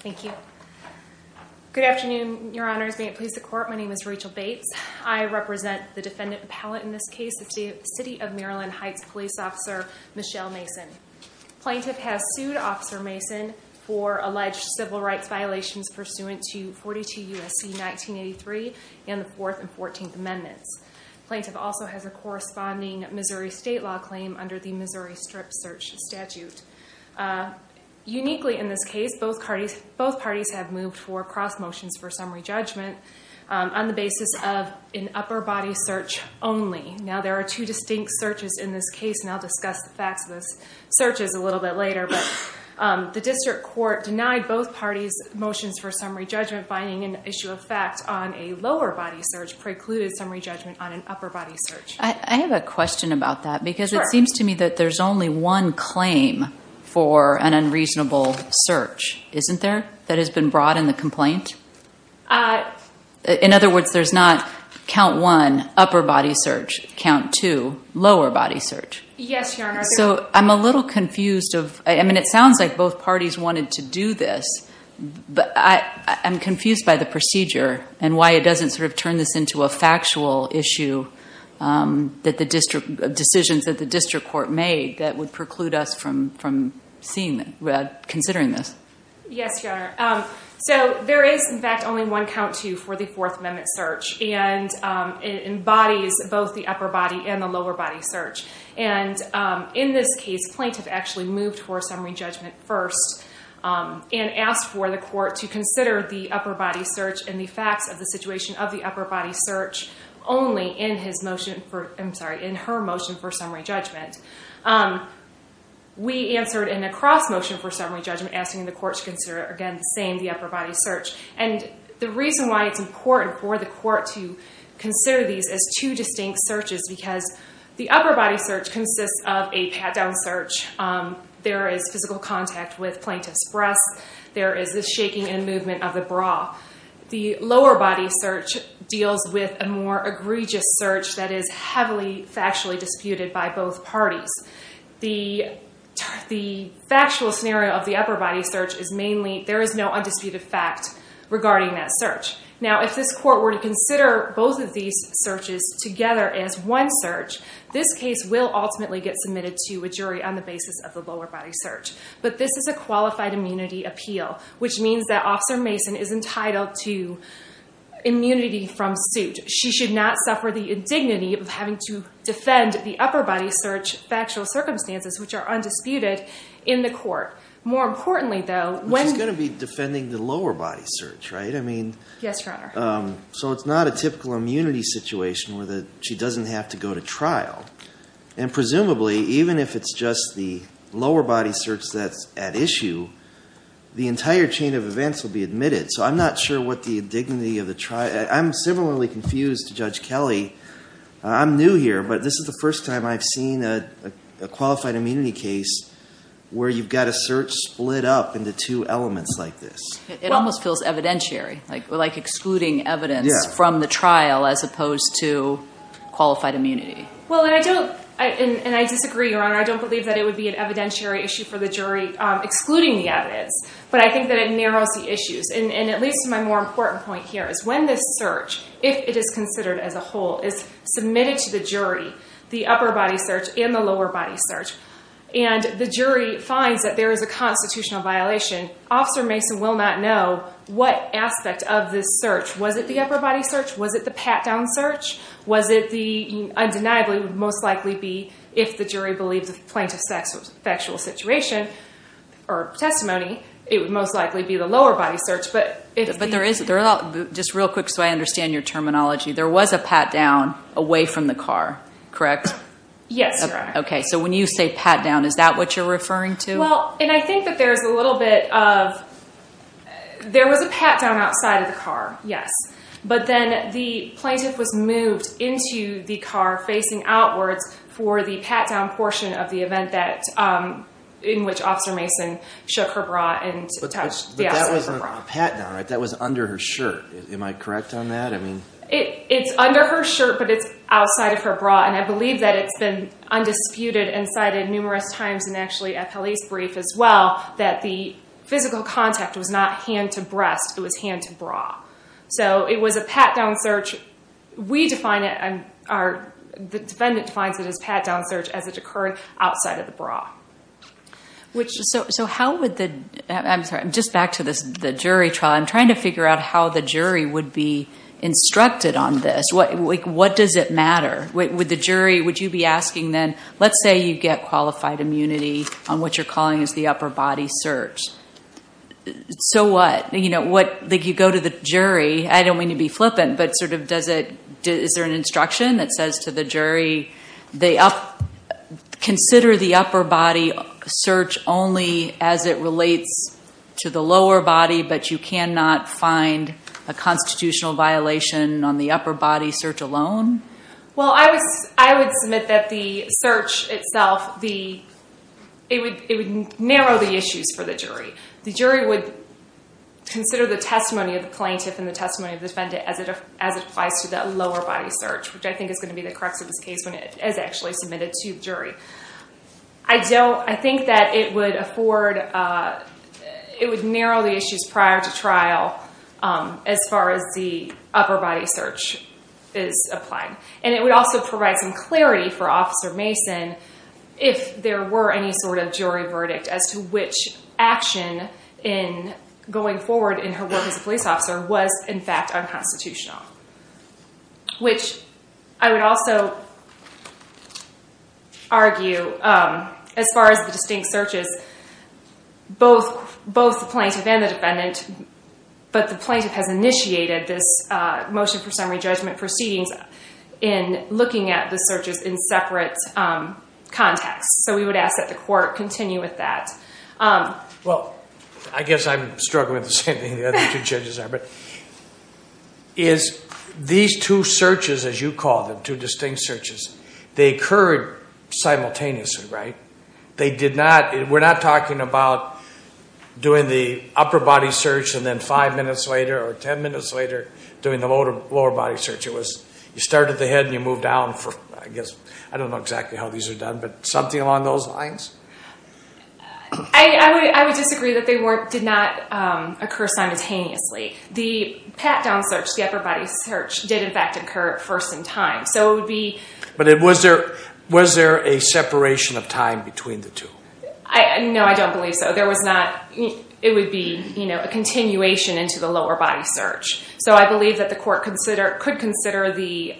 Thank you. Good afternoon, Your Honors. May it please the Court, my name is Rachel Bates. I represent the defendant appellate in this case, the City of Maryland Heights Police Officer Michelle Mason. Plaintiff has sued Officer Mason for alleged civil rights violations pursuant to 42 U.S.C. 1983 and the 4th and 14th Amendments. Plaintiff also has a corresponding Missouri State Law claim under the Missouri Strip Search Statute. Uniquely in this case, both parties have moved for cross motions for summary judgment on the basis of an upper body search only. Now, there are two distinct searches in this case, and I'll discuss the facts of those searches a little bit later, but the District Court denied both parties motions for summary judgment finding an issue of fact on a lower body search precluded summary judgment on an upper body search. I have a question about that because it seems to me that there's only one claim for an unreasonable search, isn't there, that has been brought in the complaint? In other words, there's not count one, upper body search, count two, lower body search. Yes, Your Honor. So I'm a little confused of, I mean, it sounds like both parties wanted to do this, but I'm confused by the procedure and why it doesn't sort of turn this into a factual issue that the District Court made that would preclude us from considering this. Yes, Your Honor. So there is, in fact, only one count two for the Fourth Amendment search, and it embodies both the upper body and the lower body search. And in this case, plaintiff actually moved for summary judgment first and asked for the court to consider the in her motion for summary judgment. We answered in a cross motion for summary judgment, asking the court to consider, again, the same, the upper body search. And the reason why it's important for the court to consider these as two distinct searches, because the upper body search consists of a pat-down search. There is physical contact with plaintiff's breasts. There is the shaking and movement of the bra. The lower body search deals with a more egregious search that is heavily factually disputed by both parties. The factual scenario of the upper body search is mainly there is no undisputed fact regarding that search. Now, if this court were to consider both of these searches together as one search, this case will ultimately get submitted to a jury on the basis of the lower body search. But this is a qualified immunity appeal, which means that Officer Mason is entitled to immunity from suit. She should not suffer the indignity of having to defend the upper body search factual circumstances, which are undisputed, in the court. More importantly, though, when... She's going to be defending the lower body search, right? I mean... Yes, Your Honor. So it's not a typical immunity situation where she doesn't have to go to trial. And lower body search that's at issue, the entire chain of events will be admitted. So I'm not sure what the dignity of the trial... I'm similarly confused to Judge Kelly. I'm new here, but this is the first time I've seen a qualified immunity case where you've got a search split up into two elements like this. It almost feels evidentiary, like excluding evidence from the trial as opposed to qualified immunity. Well, and I don't... And I disagree, Your Honor. I don't believe that it would be an evidentiary issue for the jury excluding the evidence, but I think that it narrows the issues. And it leads to my more important point here, is when this search, if it is considered as a whole, is submitted to the jury, the upper body search and the lower body search, and the jury finds that there is a constitutional violation, Officer Mason will not know what aspect of this search. Was it the upper body search? Was it the pat-down search? Was it the... Undeniably, it would most likely be, if the jury believes the plaintiff's sexual situation or testimony, it would most likely be the lower body search, but if the... But there is... Just real quick so I understand your terminology. There was a pat-down away from the car, correct? Yes, Your Honor. Okay. So when you say pat-down, is that what you're referring to? Well, and I think that there's a little bit of... There was a pat-down outside of the car, yes. But then the plaintiff was moved into the car facing outwards for the pat-down portion of the event that... In which Officer Mason shook her bra and touched... Yes, her bra. But that wasn't a pat-down, right? That was under her shirt. Am I correct on that? I mean... It's under her shirt, but it's outside of her bra. And I believe that it's been undisputed and cited numerous times, and actually at police brief as well, that the physical contact was not hand to breast, it was hand to bra. So it was a pat-down search. We define it... The defendant defines it as pat-down search as it occurred outside of the bra. Which... So how would the... I'm sorry, just back to the jury trial. I'm trying to figure out how the jury would be instructed on this. What does it matter? Would the jury... Would you be asking then, let's say you get qualified immunity on what you're calling as the upper body search. So what? You go to the jury, I don't mean to be flippant, but sort of does it... Is there an instruction that says to the jury, consider the upper body search only as it relates to the lower body, but you cannot find a constitutional violation on the upper body search alone? Well, I would submit that the search itself, it would narrow the issues for the jury. The jury would consider the testimony of the plaintiff and the testimony of the defendant as it applies to that lower body search, which I think is going to be the crux of this case when it is actually submitted to the jury. I don't... I think that it would afford... It would narrow the issues prior to trial as far as the upper body search is applying. And it would also provide some clarity for Officer Mason if there were any sort of jury verdict as to which action in going forward in her work as a police officer was in fact unconstitutional, which I would also argue. As far as the distinct searches, both the plaintiff and the defendant... But the plaintiff has initiated this motion for summary judgment proceedings in looking at the searches in separate contexts. So we would ask that the court continue with that. Well, I guess I'm struggling with the same thing the other two judges are. But these two searches, as you call them, two distinct searches, they occurred simultaneously, right? They did not... We're not talking about doing the upper body search and then five minutes later or ten minutes later doing the lower body search. It was... You start at the head and you move down for... I guess... I don't know exactly how these are done, but something along those lines? I would disagree that they did not occur simultaneously. The pat-down search, the upper body search, did in fact occur at first in time. So it would be... But was there a separation of time between the two? No, I don't believe so. There was not... It would be a continuation into the lower body search. So I believe that the court could consider the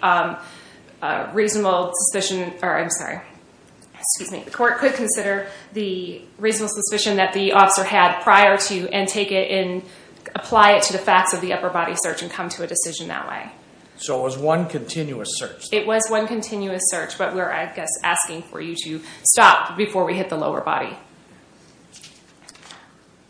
reasonable suspicion... I'm sorry. Excuse me. The court could consider the reasonable suspicion that the officer had prior to and take it and facts of the upper body search and come to a decision that way. So it was one continuous search? It was one continuous search, but we're, I guess, asking for you to stop before we hit the lower body.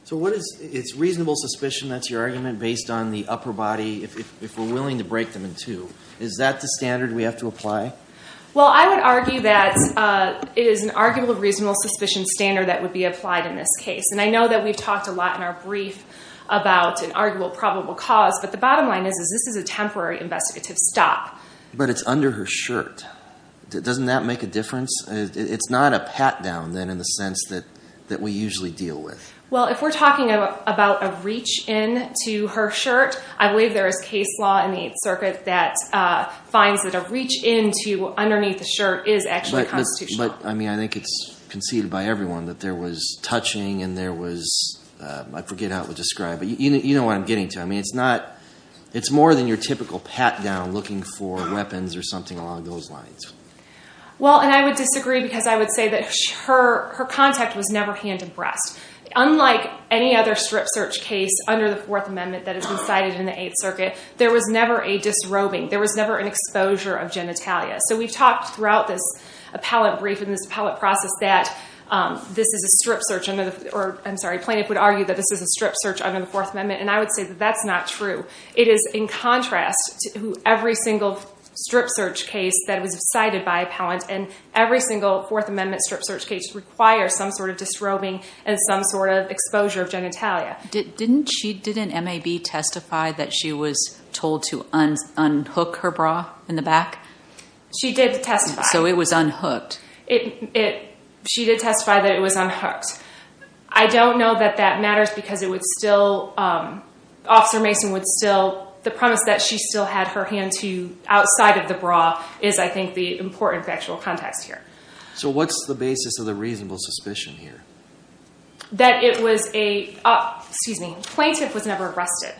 So what is... It's reasonable suspicion, that's your argument, based on the upper body, if we're willing to break them in two. Is that the standard we have to apply? Well, I would argue that it is an arguable reasonable suspicion standard that would be But the bottom line is this is a temporary investigative stop. But it's under her shirt. Doesn't that make a difference? It's not a pat-down, then, in the sense that we usually deal with. Well, if we're talking about a reach-in to her shirt, I believe there is case law in the 8th Circuit that finds that a reach-in to underneath the shirt is actually constitutional. But, I mean, I think it's conceded by everyone that there was touching and there was... I forget how it was described, but you know what I'm getting to. I mean, it's not... It's more than your typical pat-down looking for weapons or something along those lines. Well, and I would disagree because I would say that her contact was never hand-abreast. Unlike any other strip search case under the Fourth Amendment that has been cited in the 8th Circuit, there was never a disrobing. There was never an exposure of genitalia. So we've talked throughout this appellate brief and this appellate process that this is a strip search under the... Or, I'm sorry, plaintiff would argue that this is a strip search under the Fourth Amendment, and I would say that that's not true. It is in contrast to every single strip search case that was cited by appellant, and every single Fourth Amendment strip search case requires some sort of disrobing and some sort of exposure of genitalia. Didn't she... Didn't MAB testify that she was told to unhook her bra in the back? She did testify. So it was unhooked. It... She did testify that it was unhooked. I don't know that that matters because it would still... Officer Mason would still... The premise that she still had her hand to outside of the bra is, I think, the important factual context here. So what's the basis of the reasonable suspicion here? That it was a... Excuse me. Plaintiff was never arrested.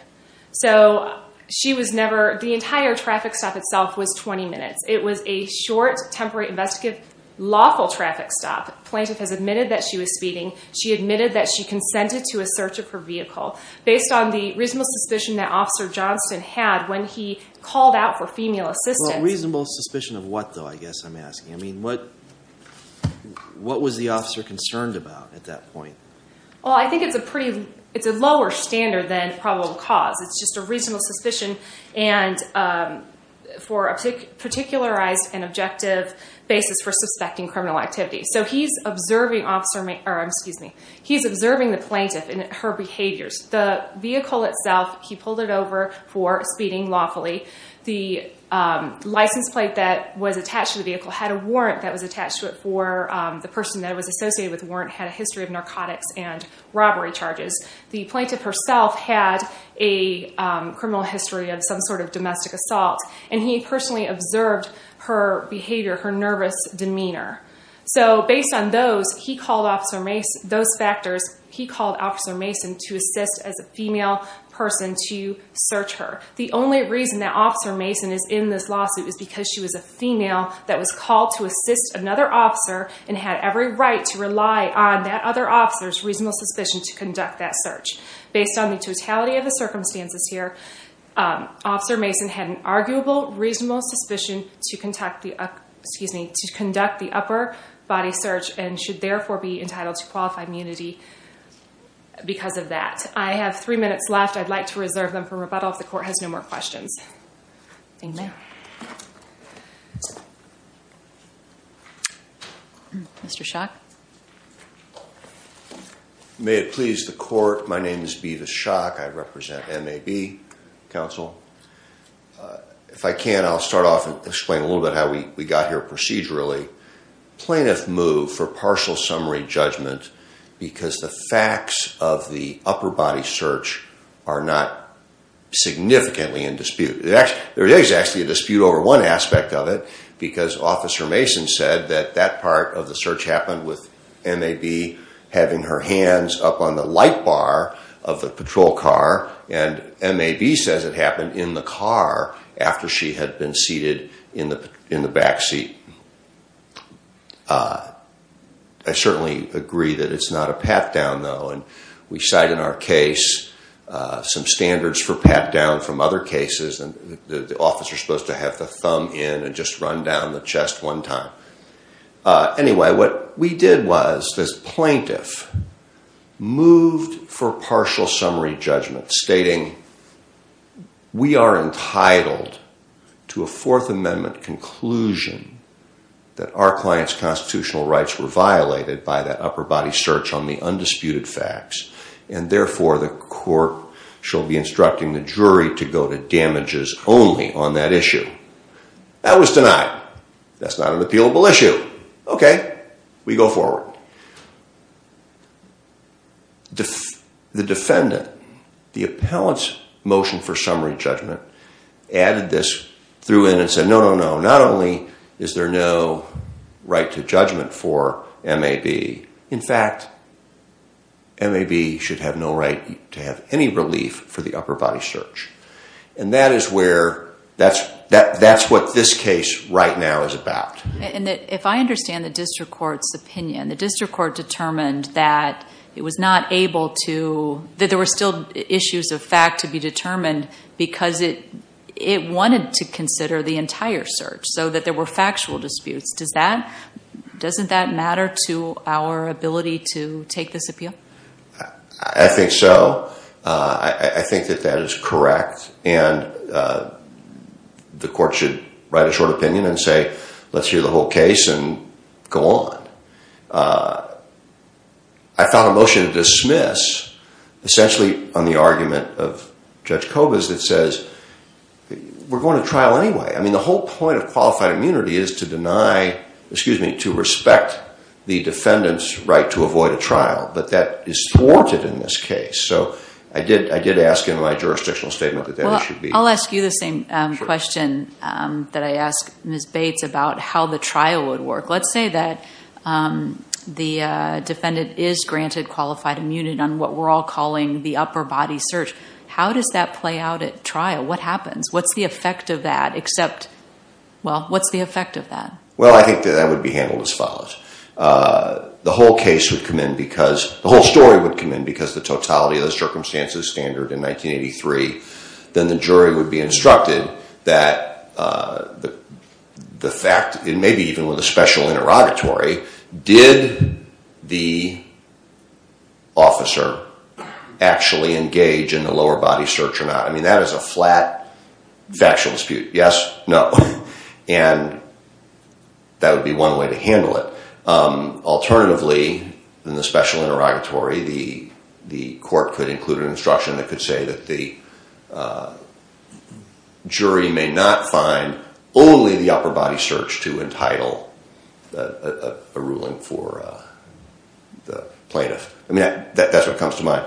So she was never... The entire traffic stop itself was 20 minutes. It was a short, temporary, investigative, lawful traffic stop. Plaintiff has admitted that she was speeding. She admitted that she consented to a search of her vehicle based on the reasonable suspicion that Officer Johnston had when he called out for female assistance. Well, reasonable suspicion of what, though, I guess I'm asking? I mean, what... What was the officer concerned about at that point? Well, I think it's a pretty... It's a lower standard than probable cause. It's just a reasonable suspicion, and for a particularized and objective basis for suspecting criminal activity. So he's observing Officer Mason... Or, excuse me. He's observing the plaintiff and her behaviors. The vehicle itself, he pulled it over for speeding lawfully. The license plate that was attached to the vehicle had a warrant that was attached to it for the person that was associated with the warrant had a history of narcotics and robbery charges. The plaintiff herself had a criminal history of some sort of domestic assault, and he personally observed her behavior, her nervous demeanor. So based on those, he called Officer Mason... Those factors, he called Officer Mason to assist as a female person to search her. The only reason that Officer Mason is in this lawsuit is because she was a female that was called to assist another officer and had every right to rely on that other officer's reasonable suspicion to conduct that search. Based on the totality of the circumstances here, Officer Mason had an arguable reasonable suspicion to conduct the... Excuse me. To conduct the upper body search and should therefore be entitled to qualified immunity because of that. I have three minutes left. I'd like to reserve them for rebuttal if the court has no more questions. Thank you, ma'am. Mr. Schock? May it please the court, my name is Beavis Schock. I represent MAB Council. If I can, I'll start off and explain a little bit how we got here procedurally. Plaintiff moved for partial summary judgment because the facts of the upper body search are not significantly in dispute. There is actually a dispute over one aspect of it because Officer Mason said that that part of the search happened with MAB having her hands up on the light bar of the patrol car and MAB says it happened in the car after she had been seated in the backseat. I certainly agree that it's not a pat-down, though, and we cite in our case some standards for pat-down from other cases and the officer's supposed to have the thumb in and just run down the chest one time. Anyway, what we did was this plaintiff moved for partial summary judgment stating we are entitled to a Fourth Amendment conclusion that our client's constitutional rights were violated by that upper body search on the undisputed facts and therefore the court shall be instructing the jury to go to damages only on that issue. That was denied. That's not an appealable issue. Okay, we go forward. The defendant, the appellant's motion for summary judgment added this, threw in and said no, no, no, not only is there no right to judgment for MAB, in fact, MAB should have no right to have any relief for the upper body search and that is where, that's what this case right now is about. If I understand the district court's opinion, the district court determined that it was not able to, that there were still issues of fact to be determined because it wanted to consider the entire search so that there were factual disputes. Doesn't that matter to our ability to take this appeal? I think so. I think that that is correct and the court should write a short opinion and say let's hear the whole case and go on. I found a motion to dismiss essentially on the argument of Judge Cobas that says we're going to trial anyway. I mean, the whole point of qualified immunity is to deny, excuse me, to respect the defendant's right to avoid a trial but that is thwarted in this case so I did ask in my jurisdictional statement that that should be. I'll ask you the same question that I asked Ms. Bates about how the trial would work. Let's say that the defendant is granted qualified immunity on what we're all calling the upper body search. How does that play out at trial? What happens? What's the effect of that except, well, what's the effect of that? Well, I think that that would be handled as follows. The whole case would come in because, the whole story would come in because the totality of the circumstances standard in 1983. Then the jury would be instructed that the fact, maybe even with a special interrogatory, did the officer actually engage in the lower body search or not? I mean, that is a flat factual dispute. Yes, no and that would be one way to handle it. Alternatively, in the special interrogatory, the court could include an instruction that could say that the jury may not find only the upper body search to entitle a ruling for the plaintiff. I mean, that's what comes to mind.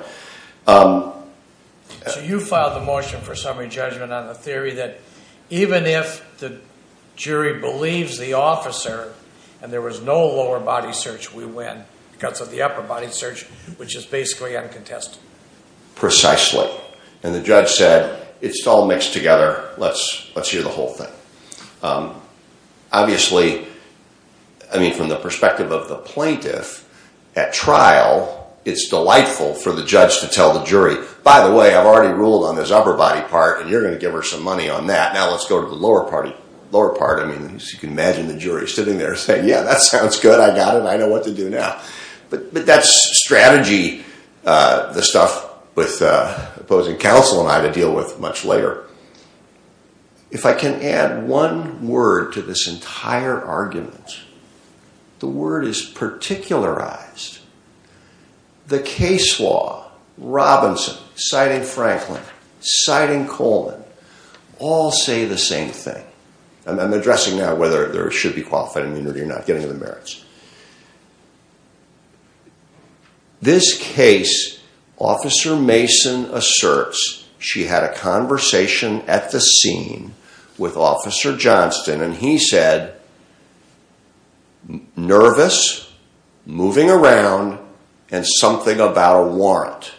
So you filed the motion for summary judgment on the theory that even if the jury believes the officer and there was no lower body search, we win because of the upper body search, which is basically uncontested. Precisely and the judge said, it's all mixed together, let's hear the whole thing. Obviously, I mean, from the perspective of the plaintiff at trial, it's delightful for the judge to tell the jury, by the way, I've already ruled on this upper body part and you're going to give her some money on that. Now, let's go to the lower part. You can imagine the jury sitting there saying, yeah, that sounds good. I got it. I know what to do now. But that's strategy, the stuff with opposing counsel and I to deal with much later. If I can add one word to this entire argument, the word is particularized. The case law, Robinson citing Franklin, citing Coleman, all say the same thing. I'm addressing now whether there should be qualified immunity or not, getting to the merits. This case, Officer Mason asserts, she had a conversation at the scene with Officer Johnston and he said, nervous, moving around, and something about a warrant.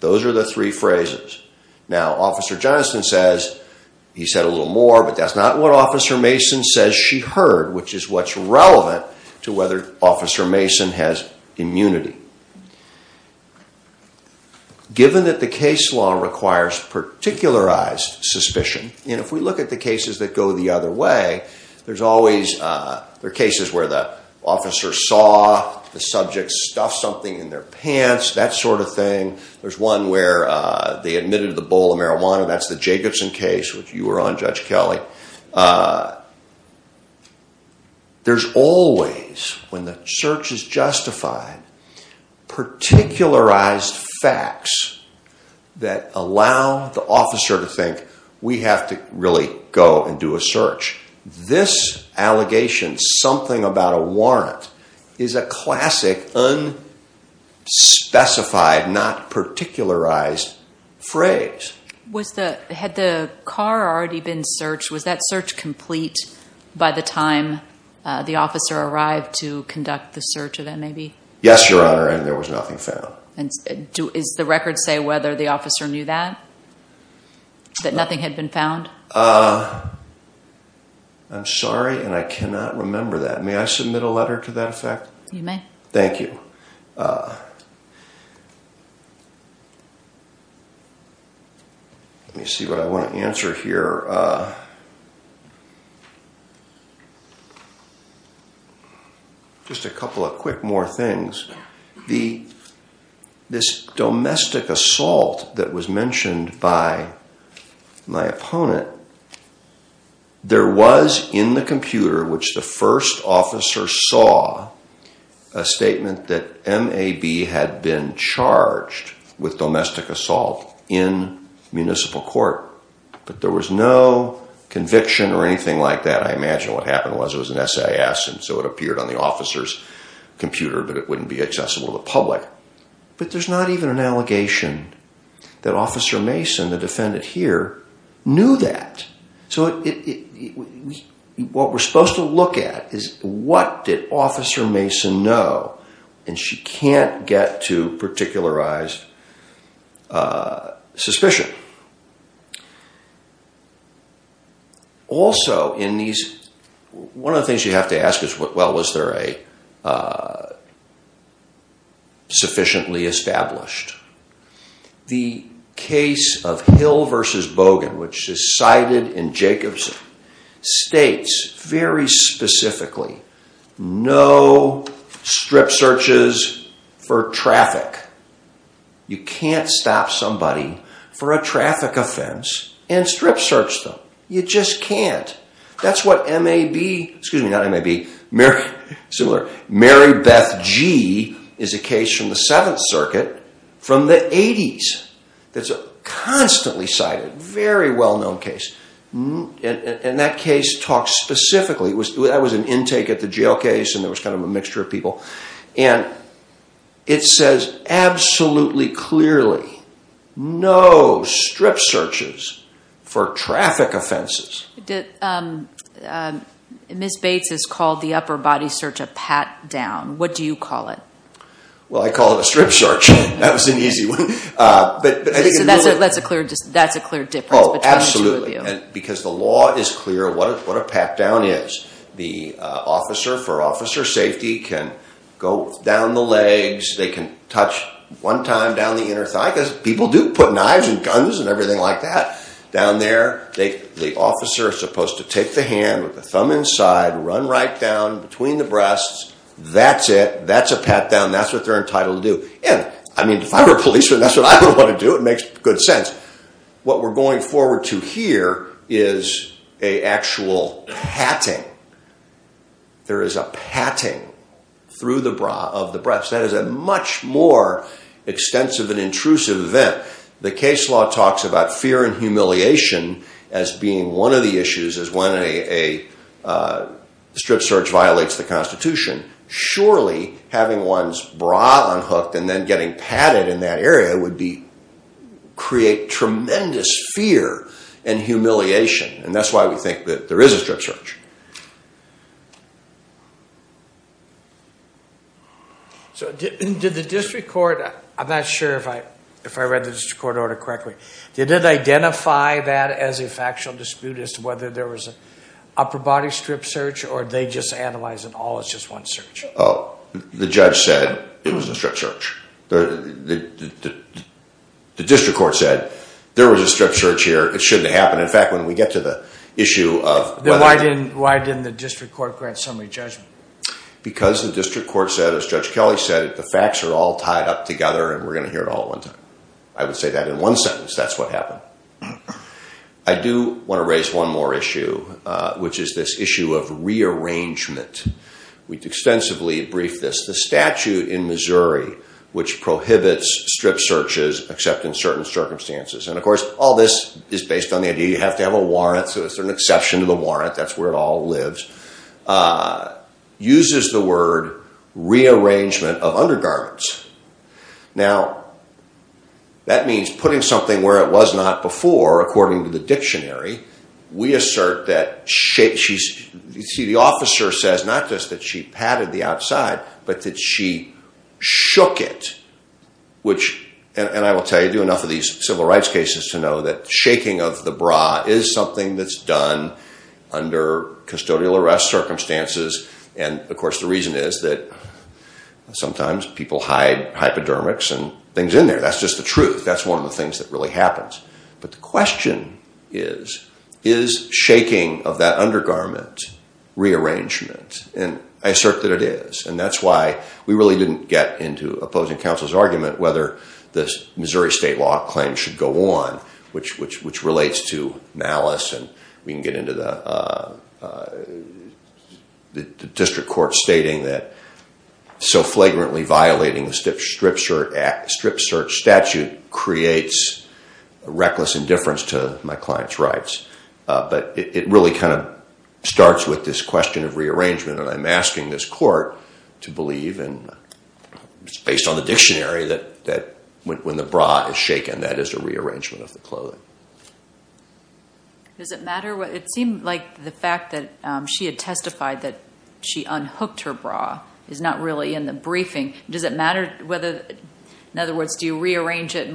Those are the three phrases. Now, Officer Johnston says, he said a little more, but that's not what Officer Mason says she heard, which is what's relevant to whether Officer Mason has immunity. Given that the case law requires particularized suspicion, and if we look at the cases that go the other way, there's always, there are cases where the officer saw the subject stuff something in their pants, that sort of thing. There's one where they admitted to the bowl of marijuana. That's the Jacobson case, which you were on, Judge Kelly. There's always, when the search is justified, particularized facts that allow the officer to think, we have to really go and do a search. This allegation, something about a warrant, is a classic, unspecified, not particularized phrase. Had the car already been searched? Was that search complete by the time the officer arrived to conduct the search event, maybe? Yes, Your Honor, and there was nothing found. Is the record say whether the officer knew that, that nothing had been found? I'm sorry, and I cannot remember that. May I submit a letter to that effect? You may. Thank you. Let me see what I want to answer here. Just a couple of quick more things. This domestic assault that was mentioned by my opponent, there was in the computer, which the first officer saw, a statement that M.A.B. had been charged with domestic assault in municipal court, but there was no conviction or anything like that. I imagine what happened was it was an S.A.S., and so it appeared on the officer's computer, but it wouldn't be accessible to the public. But there's not even an allegation that Officer Mason, the defendant here, knew that. What we're supposed to look at is what did Officer Mason know, and she can't get to particularized suspicion. Also in these, one of the things you have to ask is, well, was there a sufficiently established? The case of Hill v. Bogan, which is cited in Jacobson, states very specifically, no strip searches for traffic. You can't stop somebody for a traffic offense and strip search them. You just can't. That's what M.A.B., excuse me, not M.A.B., similar, Mary Beth Gee is a case from the Seventh Circuit from the 80s. That's a constantly cited, very well-known case. And that case talks specifically, that was an intake at the jail case, and there was kind of a mixture of people. And it says absolutely clearly, no strip searches for traffic offenses. Ms. Bates has called the upper body search a pat down. What do you call it? Well, I call it a strip search. That was an easy one. That's a clear difference between the two of you. Because the law is clear what a pat down is. The officer, for officer safety, can go down the legs. They can touch one time down the inner thigh, because people do put knives and guns and everything like that. Down there, the officer is supposed to take the hand with the thumb inside, run right down between the breasts. That's it. That's a pat down. That's what they're entitled to do. And I mean, if I were a policeman, that's what I would want to do. It makes good sense. What we're going forward to here is an actual patting. There is a patting through the bra of the breasts. That is a much more extensive and intrusive event. The case law talks about fear and humiliation as being one of the issues, as when a strip search violates the Constitution. Surely, having one's bra unhooked and then getting patted in that area would create tremendous fear and humiliation. And that's why we think that there is a strip search. So did the district court... I'm not sure if I read the district court order correctly. Did it identify that as a factual dispute as to whether there was an upper body strip search or did they just analyze it all as just one search? Oh, the judge said it was a strip search. The district court said, there was a strip search here. It shouldn't happen. In fact, when we get to the issue of... Then why didn't the district court grant summary judgment? Because the district court said, as Judge Kelly said, the facts are all tied up together and we're going to hear it all at one time. I would say that in one sentence. That's what happened. I do want to raise one more issue, which is this issue of rearrangement. We extensively briefed this. The statute in Missouri, which prohibits strip searches, except in certain circumstances. And of course, all this is based on the idea you have to have a warrant, so there's an exception to the warrant. That's where it all lives. Uses the word rearrangement of undergarments. Now, that means putting something where it was not before, according to the dictionary. We assert that... The officer says not just that she patted the outside, but that she shook it. Which, and I will tell you, I do enough of these civil rights cases to know that shaking of the bra is something that's done under custodial arrest circumstances. And of course, the reason is that sometimes people hide hypodermics and things in there. That's just the truth. That's one of the things that really happens. But the question is, is shaking of that undergarment rearrangement? And I assert that it is. And that's why we really didn't get into opposing counsel's argument whether the Missouri state law claim should go on, which relates to malice. And we can get into the district court stating that so flagrantly violating the Strip Search Statute creates reckless indifference to my client's rights. But it really kind of starts with this question of rearrangement. And I'm asking this court to believe, and it's based on the dictionary, that when the bra is shaken, that is a rearrangement of the clothing. Does it matter what, it seemed like the fact that she had testified that she unhooked her bra is not really in the briefing. Does it matter whether, in other words, do you rearrange it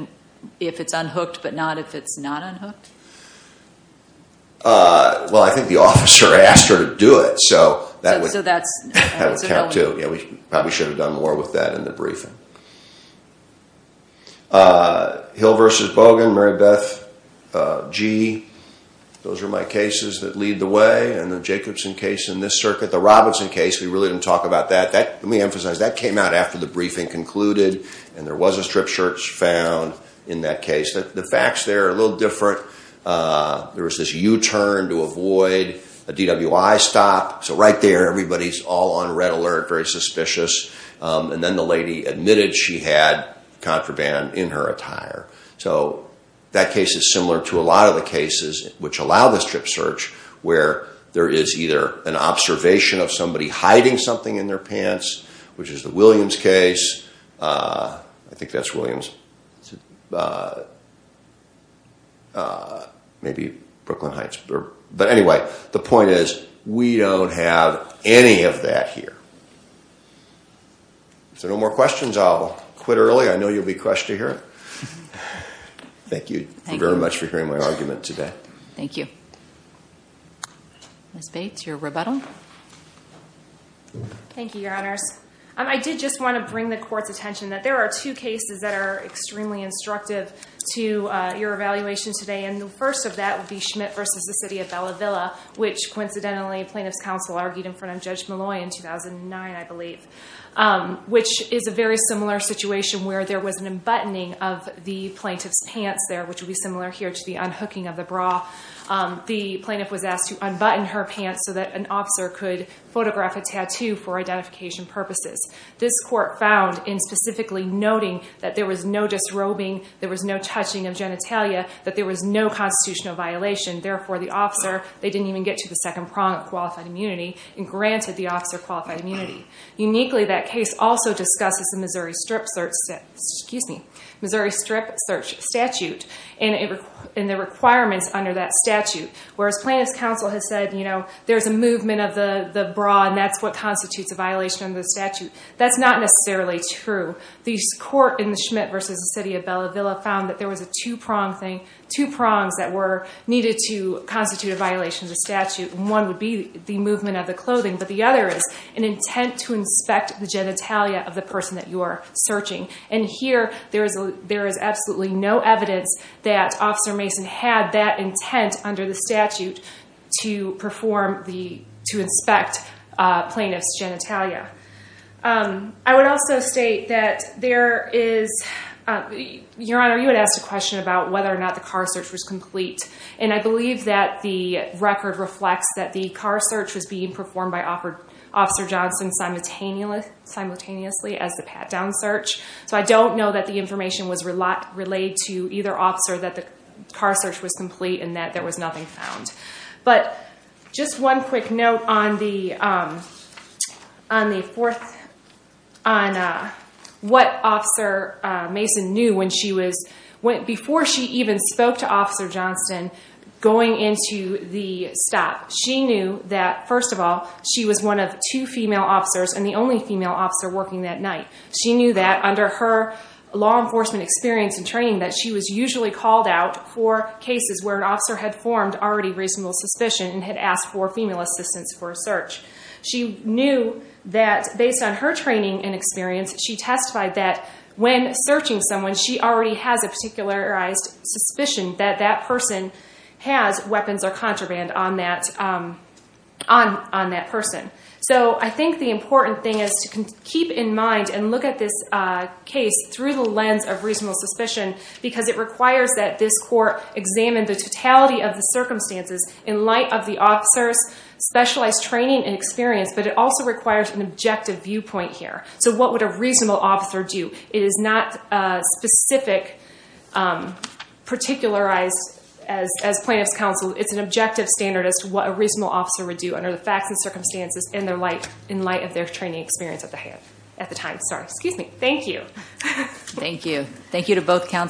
if it's unhooked, but not if it's not unhooked? Well, I think the officer asked her to do it. So that would count too. Yeah, we probably should have done more with that in the briefing. Hill versus Bogan, Mary Beth G. Those are my cases that lead the way. And the Jacobson case in this circuit, the Robinson case, we really didn't talk about that. That, let me emphasize, that came out after the briefing concluded. And there was a strip search found in that case. The facts there are a little different. There was this U-turn to avoid a DWI stop. So right there, everybody's all on red alert, very suspicious. And then the lady admitted she had contraband in her attire. So that case is similar to a lot of the cases which allow the strip search where there is either an observation of somebody hiding something in their pants, which is the Williams case. I think that's Williams. Maybe Brooklyn Heights. But anyway, the point is, we don't have any of that here. So no more questions. I'll quit early. I know you'll be crushed to hear it. Thank you very much for hearing my argument today. Thank you. Ms. Bates, your rebuttal. Thank you, your honors. I did just want to bring the court's attention that there are two cases that are extremely instructive to your evaluation today. And the first of that would be Schmidt versus the city of Bella Villa, which coincidentally, plaintiff's counsel argued in front of Judge Malloy in 2009, I believe, which is a very similar situation where there was an unbuttoning of the plaintiff's pants there, which would be similar here to the unhooking of the bra. The plaintiff was asked to unbutton her pants so that an officer could photograph a tattoo for identification purposes. This court found in specifically noting that there was no disrobing, there was no touching of genitalia, that there was no constitutional violation. Therefore, the officer, they didn't even get to the second prong of qualified immunity and granted the officer qualified immunity. Uniquely, that case also discusses the Missouri Strip search statute and the requirements under that statute. Whereas plaintiff's counsel has said, there's a movement of the bra and that's what constitutes a violation of the statute. That's not necessarily true. The court in the Schmidt versus the city of Bella Villa found that there was a two prong thing, that were needed to constitute a violation of the statute. One would be the movement of the clothing, but the other is an intent to inspect the genitalia of the person that you're searching. And here, there is absolutely no evidence that Officer Mason had that intent under the statute to perform the, to inspect plaintiff's genitalia. I would also state that there is, Your Honor, you had asked a question about whether or not the car search was complete. And I believe that the record reflects that the car search was being performed by Officer Johnson simultaneously as the pat-down search. So I don't know that the information was relayed to either officer that the car search was complete and that there was nothing found. But just one quick note on the fourth, on what Officer Mason knew when she was, before she even spoke to Officer Johnson going into the stop. She knew that, first of all, she was one of two female officers and the only female officer working that night. She knew that under her law enforcement experience and training, that she was usually called out for cases where an officer had formed already reasonable suspicion and had asked for female assistance for a search. She knew that based on her training and experience, she testified that when searching someone, she already has a particularized suspicion that that person has weapons or contraband on that person. So I think the important thing is to keep in mind and look at this case through the lens of reasonable suspicion because it requires that this court examine the totality of the circumstances in light of the officer's specialized training and experience, but it also requires an objective viewpoint here. So what would a reasonable officer do? It is not a specific, particularized as plaintiff's counsel. It's an objective standard as to what a reasonable officer would do under the facts and circumstances in light of their training experience at the time. Sorry, excuse me. Thank you. Thank you. Thank you to both counsel.